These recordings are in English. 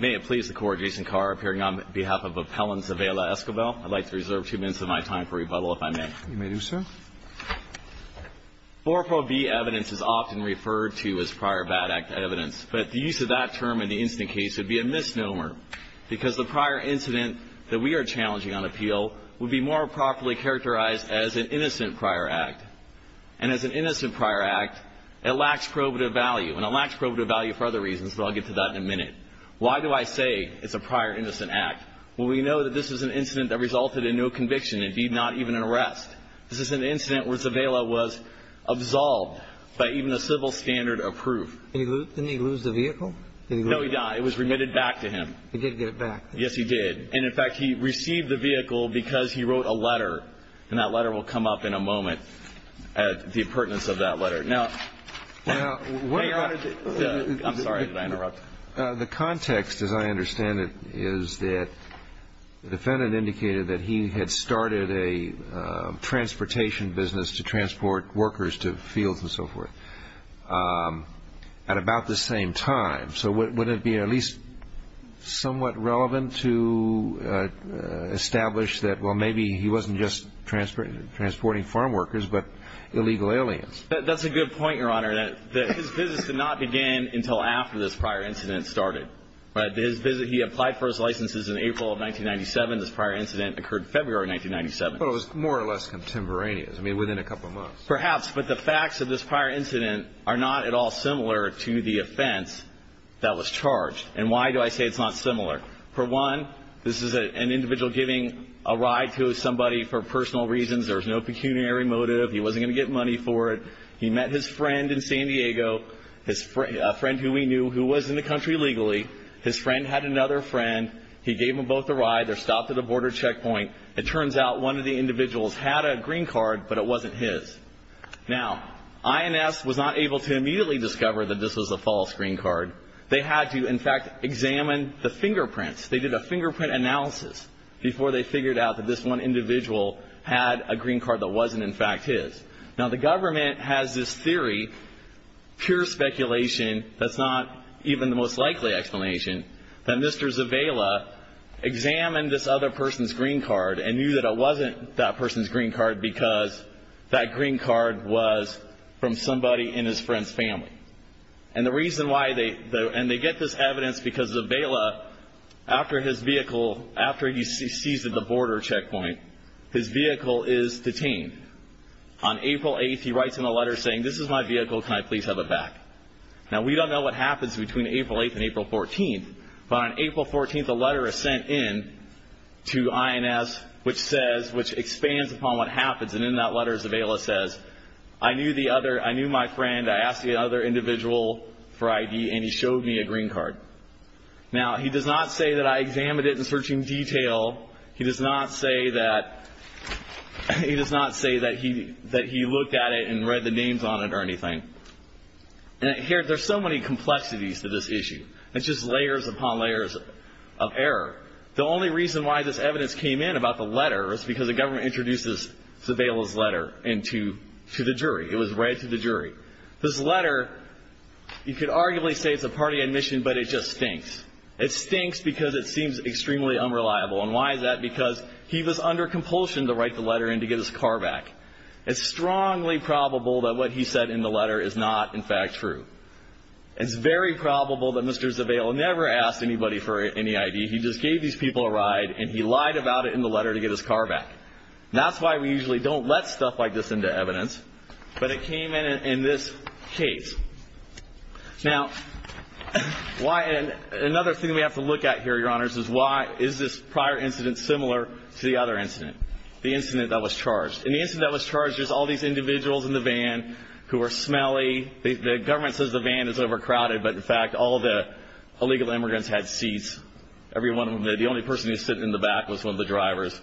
May it please the court, Jason Carr, appearing on behalf of Appellant Zavala-Esquivel. I'd like to reserve two minutes of my time for rebuttal, if I may. You may do so. 4 Pro B evidence is often referred to as prior bad act evidence. But the use of that term in the incident case would be a misnomer because the prior incident that we are challenging on appeal would be more properly characterized as an innocent prior act. And as an innocent prior act, it lacks probative value. And it lacks probative value for other reasons, but I'll get to that in a minute. Why do I say it's a prior innocent act? Well, we know that this is an incident that resulted in no conviction, indeed not even an arrest. This is an incident where Zavala was absolved by even a civil standard of proof. Didn't he lose the vehicle? No, he didn't. It was remitted back to him. He did get it back. Yes, he did. And, in fact, he received the vehicle because he wrote a letter. And that letter will come up in a moment, the pertinence of that letter. I'm sorry, did I interrupt? The context, as I understand it, is that the defendant indicated that he had started a transportation business to transport workers to fields and so forth at about the same time. So wouldn't it be at least somewhat relevant to establish that, well, maybe he wasn't just transporting farm workers but illegal aliens? That's a good point, Your Honor, that his business did not begin until after this prior incident started. His business, he applied for his licenses in April of 1997. This prior incident occurred February of 1997. Well, it was more or less contemporaneous, I mean, within a couple of months. Perhaps, but the facts of this prior incident are not at all similar to the offense that was charged. And why do I say it's not similar? For one, this is an individual giving a ride to somebody for personal reasons. There was no pecuniary motive. He wasn't going to get money for it. He met his friend in San Diego, a friend who he knew who was in the country legally. His friend had another friend. He gave them both a ride. They're stopped at a border checkpoint. It turns out one of the individuals had a green card, but it wasn't his. Now, INS was not able to immediately discover that this was a false green card. They had to, in fact, examine the fingerprints. They did a fingerprint analysis before they figured out that this one individual had a green card that wasn't, in fact, his. Now, the government has this theory, pure speculation, that's not even the most likely explanation, that Mr. Zavella examined this other person's green card and knew that it wasn't that person's green card because that green card was from somebody in his friend's family. And the reason why they, and they get this evidence because Zavella, after his vehicle, after he sees at the border checkpoint, his vehicle is detained. On April 8th, he writes him a letter saying, this is my vehicle. Can I please have it back? Now, we don't know what happens between April 8th and April 14th, but on April 14th, a letter is sent in to INS which says, which expands upon what happens, and in that letter, Zavella says, I knew the other, I knew my friend, I asked the other individual for ID, and he showed me a green card. Now, he does not say that I examined it in searching detail. He does not say that, he does not say that he looked at it and read the names on it or anything. And here, there's so many complexities to this issue. It's just layers upon layers of error. The only reason why this evidence came in about the letter is because the government introduces Zavella's letter to the jury. It was read to the jury. This letter, you could arguably say it's a party admission, but it just stinks. It stinks because it seems extremely unreliable. And why is that? Because he was under compulsion to write the letter in to get his car back. It's strongly probable that what he said in the letter is not, in fact, true. It's very probable that Mr. Zavella never asked anybody for any ID. He just gave these people a ride, and he lied about it in the letter to get his car back. That's why we usually don't let stuff like this into evidence. But it came in in this case. Now, another thing we have to look at here, Your Honors, is why is this prior incident similar to the other incident, the incident that was charged? In the incident that was charged, there's all these individuals in the van who are smelly. The government says the van is overcrowded, but, in fact, all the illegal immigrants had seats. Every one of them. The only person who stood in the back was one of the drivers.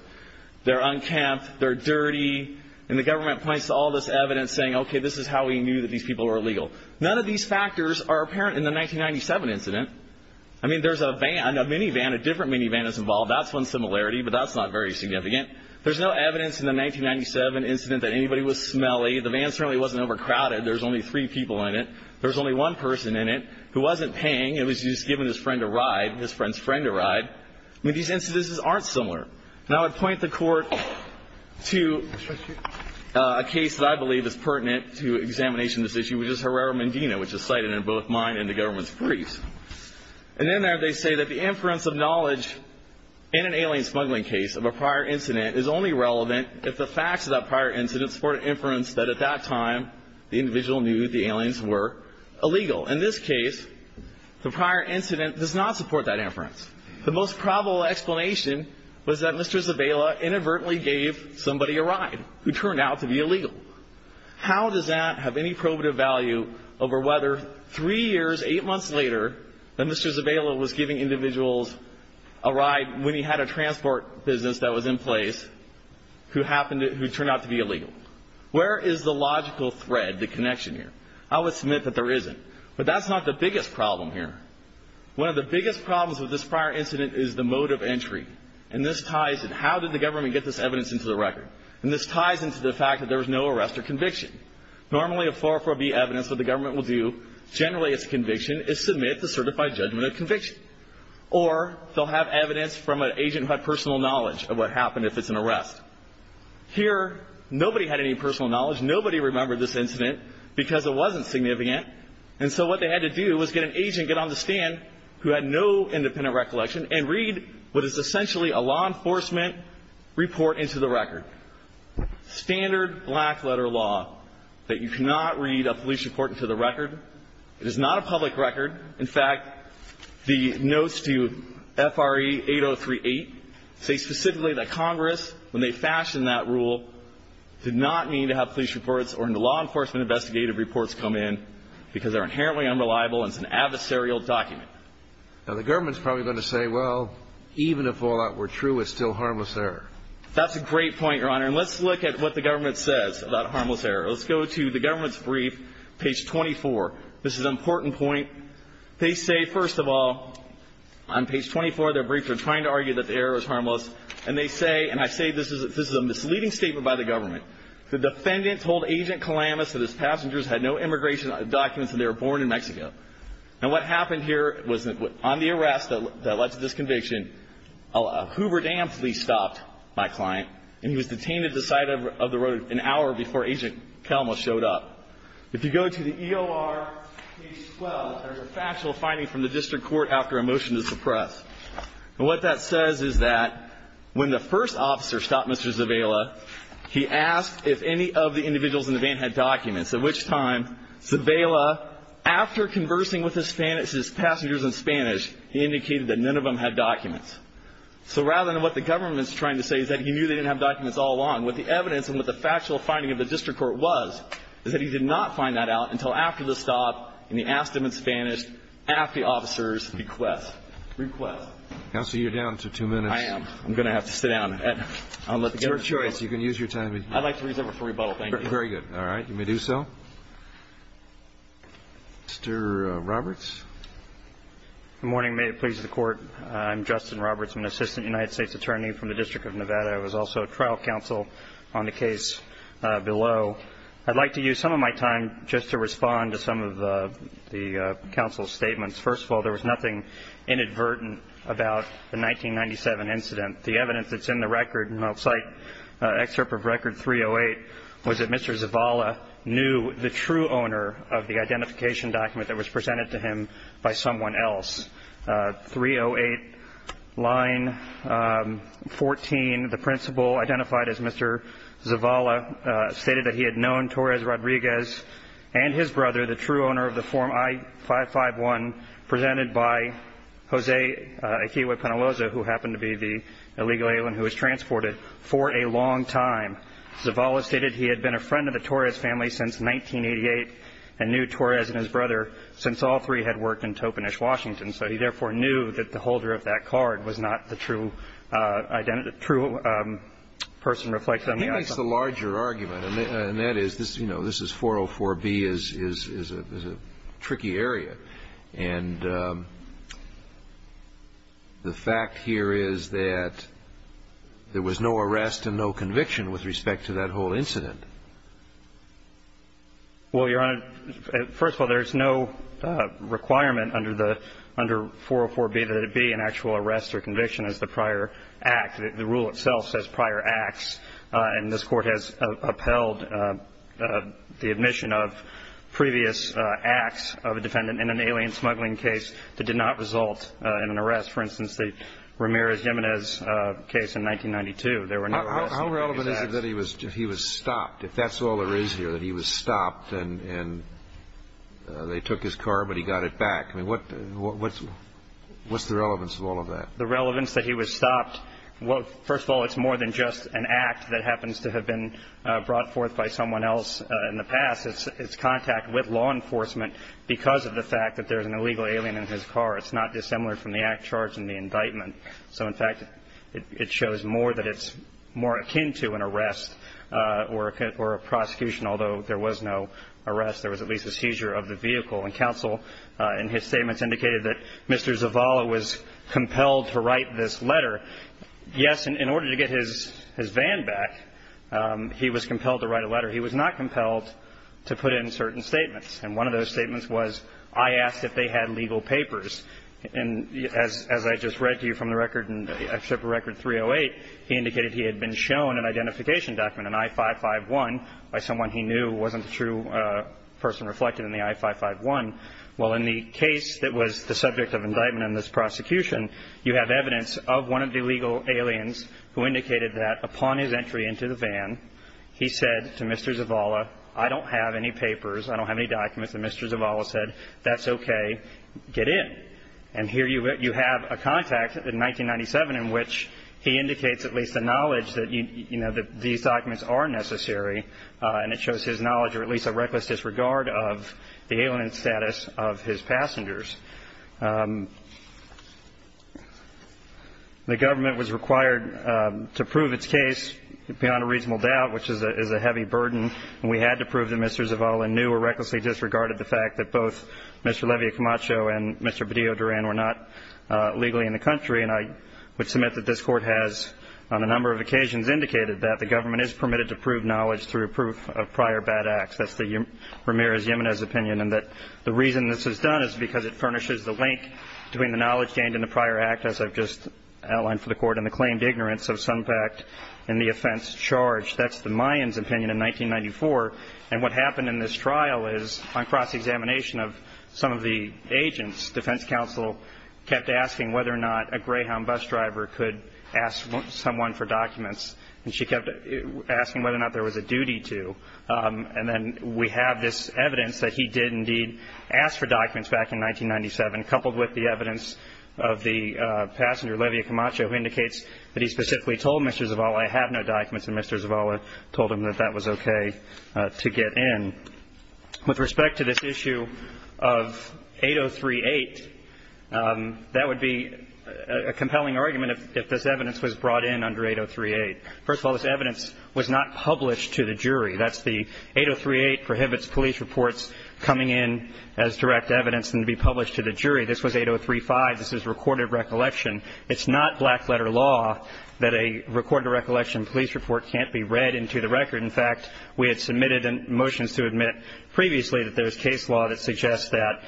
They're unkempt. They're dirty. And the government points to all this evidence saying, okay, this is how we knew that these people were illegal. None of these factors are apparent in the 1997 incident. I mean, there's a van, a minivan, a different minivan that's involved. That's one similarity, but that's not very significant. There's no evidence in the 1997 incident that anybody was smelly. The van certainly wasn't overcrowded. There's only three people in it. There's only one person in it who wasn't paying. He was just giving his friend a ride, his friend's friend a ride. I mean, these instances aren't similar. And I would point the Court to a case that I believe is pertinent to examination of this issue, which is Herrera-Mendina, which is cited in both mine and the government's briefs. And in there, they say that the inference of knowledge in an alien smuggling case of a prior incident is only relevant if the facts of that prior incident support inference that at that time the individual knew the aliens were illegal. In this case, the prior incident does not support that inference. The most probable explanation was that Mr. Zavella inadvertently gave somebody a ride who turned out to be illegal. How does that have any probative value over whether three years, eight months later, that Mr. Zavella was giving individuals a ride when he had a transport business that was in place who turned out to be illegal? Where is the logical thread, the connection here? I would submit that there isn't. But that's not the biggest problem here. One of the biggest problems with this prior incident is the mode of entry. And this ties in. How did the government get this evidence into the record? And this ties into the fact that there was no arrest or conviction. Normally, a 404B evidence that the government will do, generally it's a conviction, is submit the certified judgment of conviction. Or they'll have evidence from an agent who had personal knowledge of what happened if it's an arrest. Here, nobody had any personal knowledge. Nobody remembered this incident because it wasn't significant. And so what they had to do was get an agent, get on the stand who had no independent recollection, and read what is essentially a law enforcement report into the record. Standard black letter law that you cannot read a police report into the record. It is not a public record. In fact, the notes to FRE 8038 say specifically that Congress, when they fashioned that rule, did not need to have police reports or law enforcement investigative reports come in because they're inherently unreliable and it's an adversarial document. Now, the government's probably going to say, well, even if all that were true, it's still harmless error. That's a great point, Your Honor. And let's look at what the government says about harmless error. Let's go to the government's brief, page 24. This is an important point. They say, first of all, on page 24, their briefs are trying to argue that the error is harmless. And they say, and I say this is a misleading statement by the government, the defendant told Agent Calamas that his passengers had no immigration documents and they were born in Mexico. Now, what happened here was on the arrest that led to this conviction, a Hoover Dam police stopped my client and he was detained at the side of the road an hour before Agent Calamas showed up. If you go to the EOR, page 12, there's a factual finding from the district court after a motion to suppress. And what that says is that when the first officer stopped Mr. Zavella, he asked if any of the individuals in the van had documents, at which time Zavella, after conversing with his passengers in Spanish, he indicated that none of them had documents. So rather than what the government's trying to say is that he knew they didn't have documents all along, what the evidence and what the factual finding of the district court was is that he did not find that out until after the stop and he asked them in Spanish after the officer's request. Counsel, you're down to two minutes. I am. I'm going to have to sit down. It's your choice. You can use your time. I'd like to reserve it for rebuttal. Thank you. Very good. All right. You may do so. Mr. Roberts. Good morning. May it please the Court. I'm Justin Roberts. I'm an assistant United States attorney from the District of Nevada. I was also a trial counsel on the case below. I'd like to use some of my time just to respond to some of the counsel's statements. First of all, there was nothing inadvertent about the 1997 incident. The evidence that's in the record, and I'll cite excerpt of record 308, was that Mr. Zavala knew the true owner of the identification document that was presented to him by someone else. 308, line 14, the principal identified as Mr. Zavala stated that he had known Torres Rodriguez and his brother, the true owner of the form I-551, presented by Jose Akiwe-Panaloza, who happened to be the illegal alien who was transported, for a long time. Zavala stated he had been a friend of the Torres family since 1988 and knew Torres and his brother since all three had worked in Topanish, Washington, so he therefore knew that the holder of that card was not the true person reflected on the I-551. And that's the larger argument, and that is, you know, this is 404B is a tricky area. And the fact here is that there was no arrest and no conviction with respect to that whole incident. Well, Your Honor, first of all, there's no requirement under the 404B that it be an actual arrest or conviction as the prior act. The rule itself says prior acts, and this Court has upheld the admission of previous acts of a defendant in an alien smuggling case that did not result in an arrest. For instance, the Ramirez-Yemenez case in 1992, there were no arrests. How relevant is it that he was stopped, if that's all there is here, that he was stopped and they took his car but he got it back? I mean, what's the relevance of all of that? The relevance that he was stopped, first of all, it's more than just an act that happens to have been brought forth by someone else in the past. It's contact with law enforcement because of the fact that there's an illegal alien in his car. It's not dissimilar from the act charged in the indictment. So, in fact, it shows more that it's more akin to an arrest or a prosecution, although there was no arrest. There was at least a seizure of the vehicle. And counsel, in his statements, indicated that Mr. Zavala was compelled to write this letter. Yes, in order to get his van back, he was compelled to write a letter. He was not compelled to put in certain statements. And one of those statements was, I asked if they had legal papers. And as I just read to you from the record in Excerpt of Record 308, he indicated he had been shown an identification document, an I-551, by someone he knew wasn't the true person reflected in the I-551. Well, in the case that was the subject of indictment in this prosecution, you have evidence of one of the illegal aliens who indicated that upon his entry into the van, he said to Mr. Zavala, I don't have any papers, I don't have any documents. And Mr. Zavala said, that's okay, get in. And here you have a contact in 1997 in which he indicates at least a knowledge that, you know, that these documents are necessary. And it shows his knowledge or at least a reckless disregard of the alien status of his passengers. The government was required to prove its case beyond a reasonable doubt, which is a heavy burden. And we had to prove that Mr. Zavala knew or recklessly disregarded the fact that both Mr. Levy Camacho and Mr. Bedillo Duran were not legally in the country. And I would submit that this Court has, on a number of occasions, indicated that the government is permitted to prove knowledge through proof of prior bad acts. That's the Ramirez-Yemenez opinion. And that the reason this is done is because it furnishes the link between the knowledge gained in the prior act, as I've just outlined for the Court, and the claimed ignorance of some fact in the offense charged. That's the Mayans' opinion in 1994. And what happened in this trial is on cross-examination of some of the agents, defense counsel kept asking whether or not a Greyhound bus driver could ask someone for documents. And she kept asking whether or not there was a duty to. And then we have this evidence that he did indeed ask for documents back in 1997, coupled with the evidence of the passenger, Levy Camacho, who indicates that he specifically told Mr. Zavala, I have no documents, and Mr. Zavala told him that that was okay to get in. With respect to this issue of 803.8, that would be a compelling argument if this evidence was brought in under 803.8. First of all, this evidence was not published to the jury. That's the 803.8 prohibits police reports coming in as direct evidence and to be published to the jury. This was 803.5. This is recorded recollection. It's not black-letter law that a recorded recollection police report can't be read into the record. In fact, we had submitted motions to admit previously that there was case law that suggests that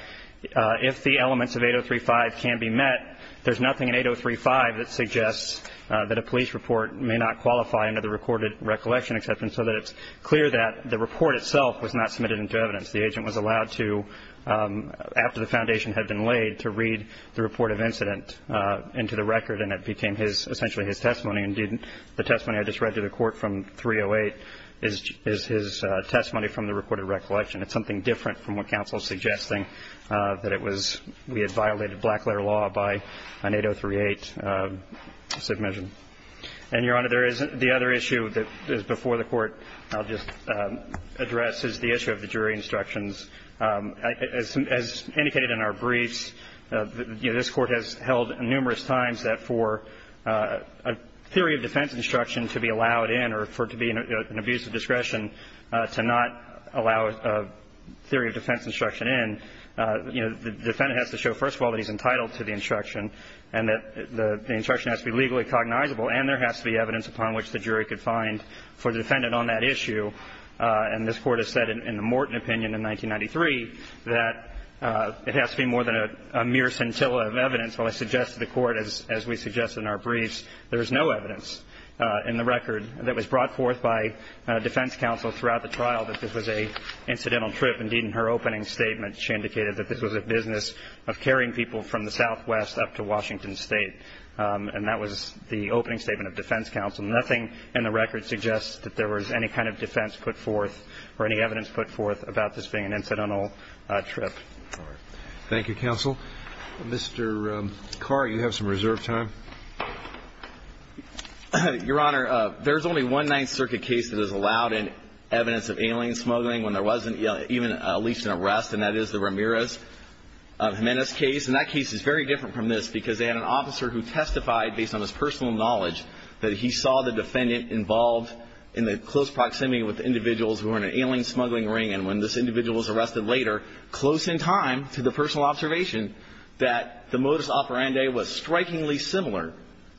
if the elements of 803.5 can be met, there's nothing in 803.5 that suggests that a police report may not qualify under the recorded recollection exception, so that it's clear that the report itself was not submitted into evidence. The agent was allowed to, after the foundation had been laid, to read the report of incident into the record, and it became essentially his testimony. Indeed, the testimony I just read to the Court from 308 is his testimony from the recorded recollection. It's something different from what counsel is suggesting, that it was we had violated black-letter law by an 803.8 submission. And, Your Honor, there is the other issue that is before the Court I'll just address is the issue of the jury instructions. As indicated in our briefs, this Court has held numerous times that for a theory of defense instruction to be allowed in or for it to be an abuse of discretion to not allow a theory of defense instruction in, you know, the defendant has to show, first of all, that he's entitled to the instruction and that the instruction has to be legally cognizable and there has to be evidence upon which the jury could find for the defendant on that issue, and this Court has said in the Morton opinion in 1993 that it has to be more than a mere scintilla of evidence. Well, I suggest to the Court, as we suggest in our briefs, there is no evidence in the record that was brought forth by defense counsel throughout the trial that this was an incidental trip. Indeed, in her opening statement, she indicated that this was a business of carrying people from the Southwest up to Washington State, and that was the opening statement of defense counsel. Nothing in the record suggests that there was any kind of defense put forth or any evidence put forth about this being an incidental trip. Thank you, counsel. Mr. Carr, you have some reserve time. Your Honor, there is only one Ninth Circuit case that is allowed in evidence of alien smuggling when there wasn't even at least an arrest, and that is the Ramirez-Jimenez case, and that case is very different from this because they had an officer who testified, based on his personal knowledge, that he saw the defendant involved in the close proximity with individuals who were in an alien smuggling ring, and when this individual was arrested later, close in time to the personal observation that the modus operandi was strikingly similar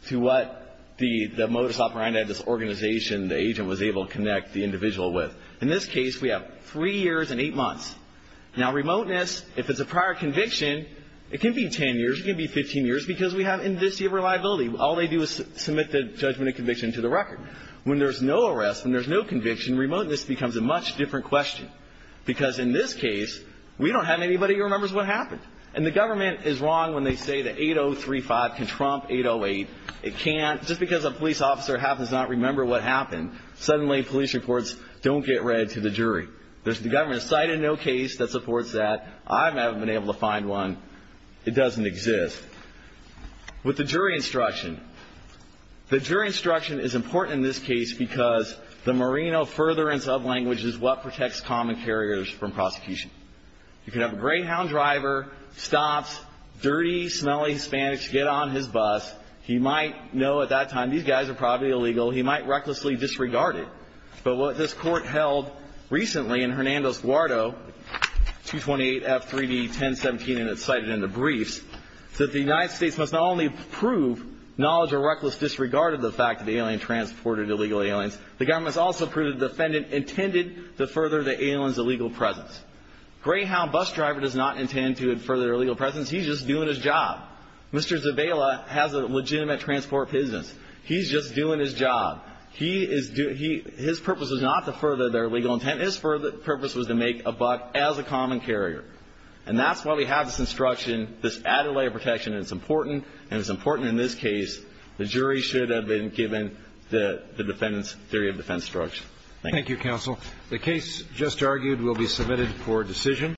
to what the modus operandi of this organization the agent was able to connect the individual with. In this case, we have 3 years and 8 months. Now, remoteness, if it's a prior conviction, it can be 10 years, it can be 15 years, it's because we have indiscreet reliability. All they do is submit the judgment of conviction to the record. When there's no arrest and there's no conviction, remoteness becomes a much different question because in this case, we don't have anybody who remembers what happened, and the government is wrong when they say that 8035 can trump 808. It can't. Just because a police officer happens to not remember what happened, suddenly police reports don't get read to the jury. There's the government's sight in no case that supports that. I haven't been able to find one. It doesn't exist. With the jury instruction, the jury instruction is important in this case because the merino furtherance of language is what protects common carriers from prosecution. You can have a greyhound driver, stops, dirty, smelly Hispanics get on his bus. He might know at that time these guys are probably illegal. He might recklessly disregard it. But what this court held recently in Hernandez-Guardo, 228F3D1017, and it's cited in the briefs, that the United States must not only prove knowledge or reckless disregard of the fact that the alien transported illegal aliens, the government must also prove the defendant intended to further the alien's illegal presence. Greyhound bus driver does not intend to further their illegal presence. He's just doing his job. Mr. Zabala has a legitimate transport business. He's just doing his job. His purpose was not to further their illegal intent. His purpose was to make a buck as a common carrier. And that's why we have this instruction, this added layer of protection. It's important, and it's important in this case. The jury should have been given the defendant's theory of defense instruction. Thank you. Thank you, counsel. The case just argued will be submitted for decision.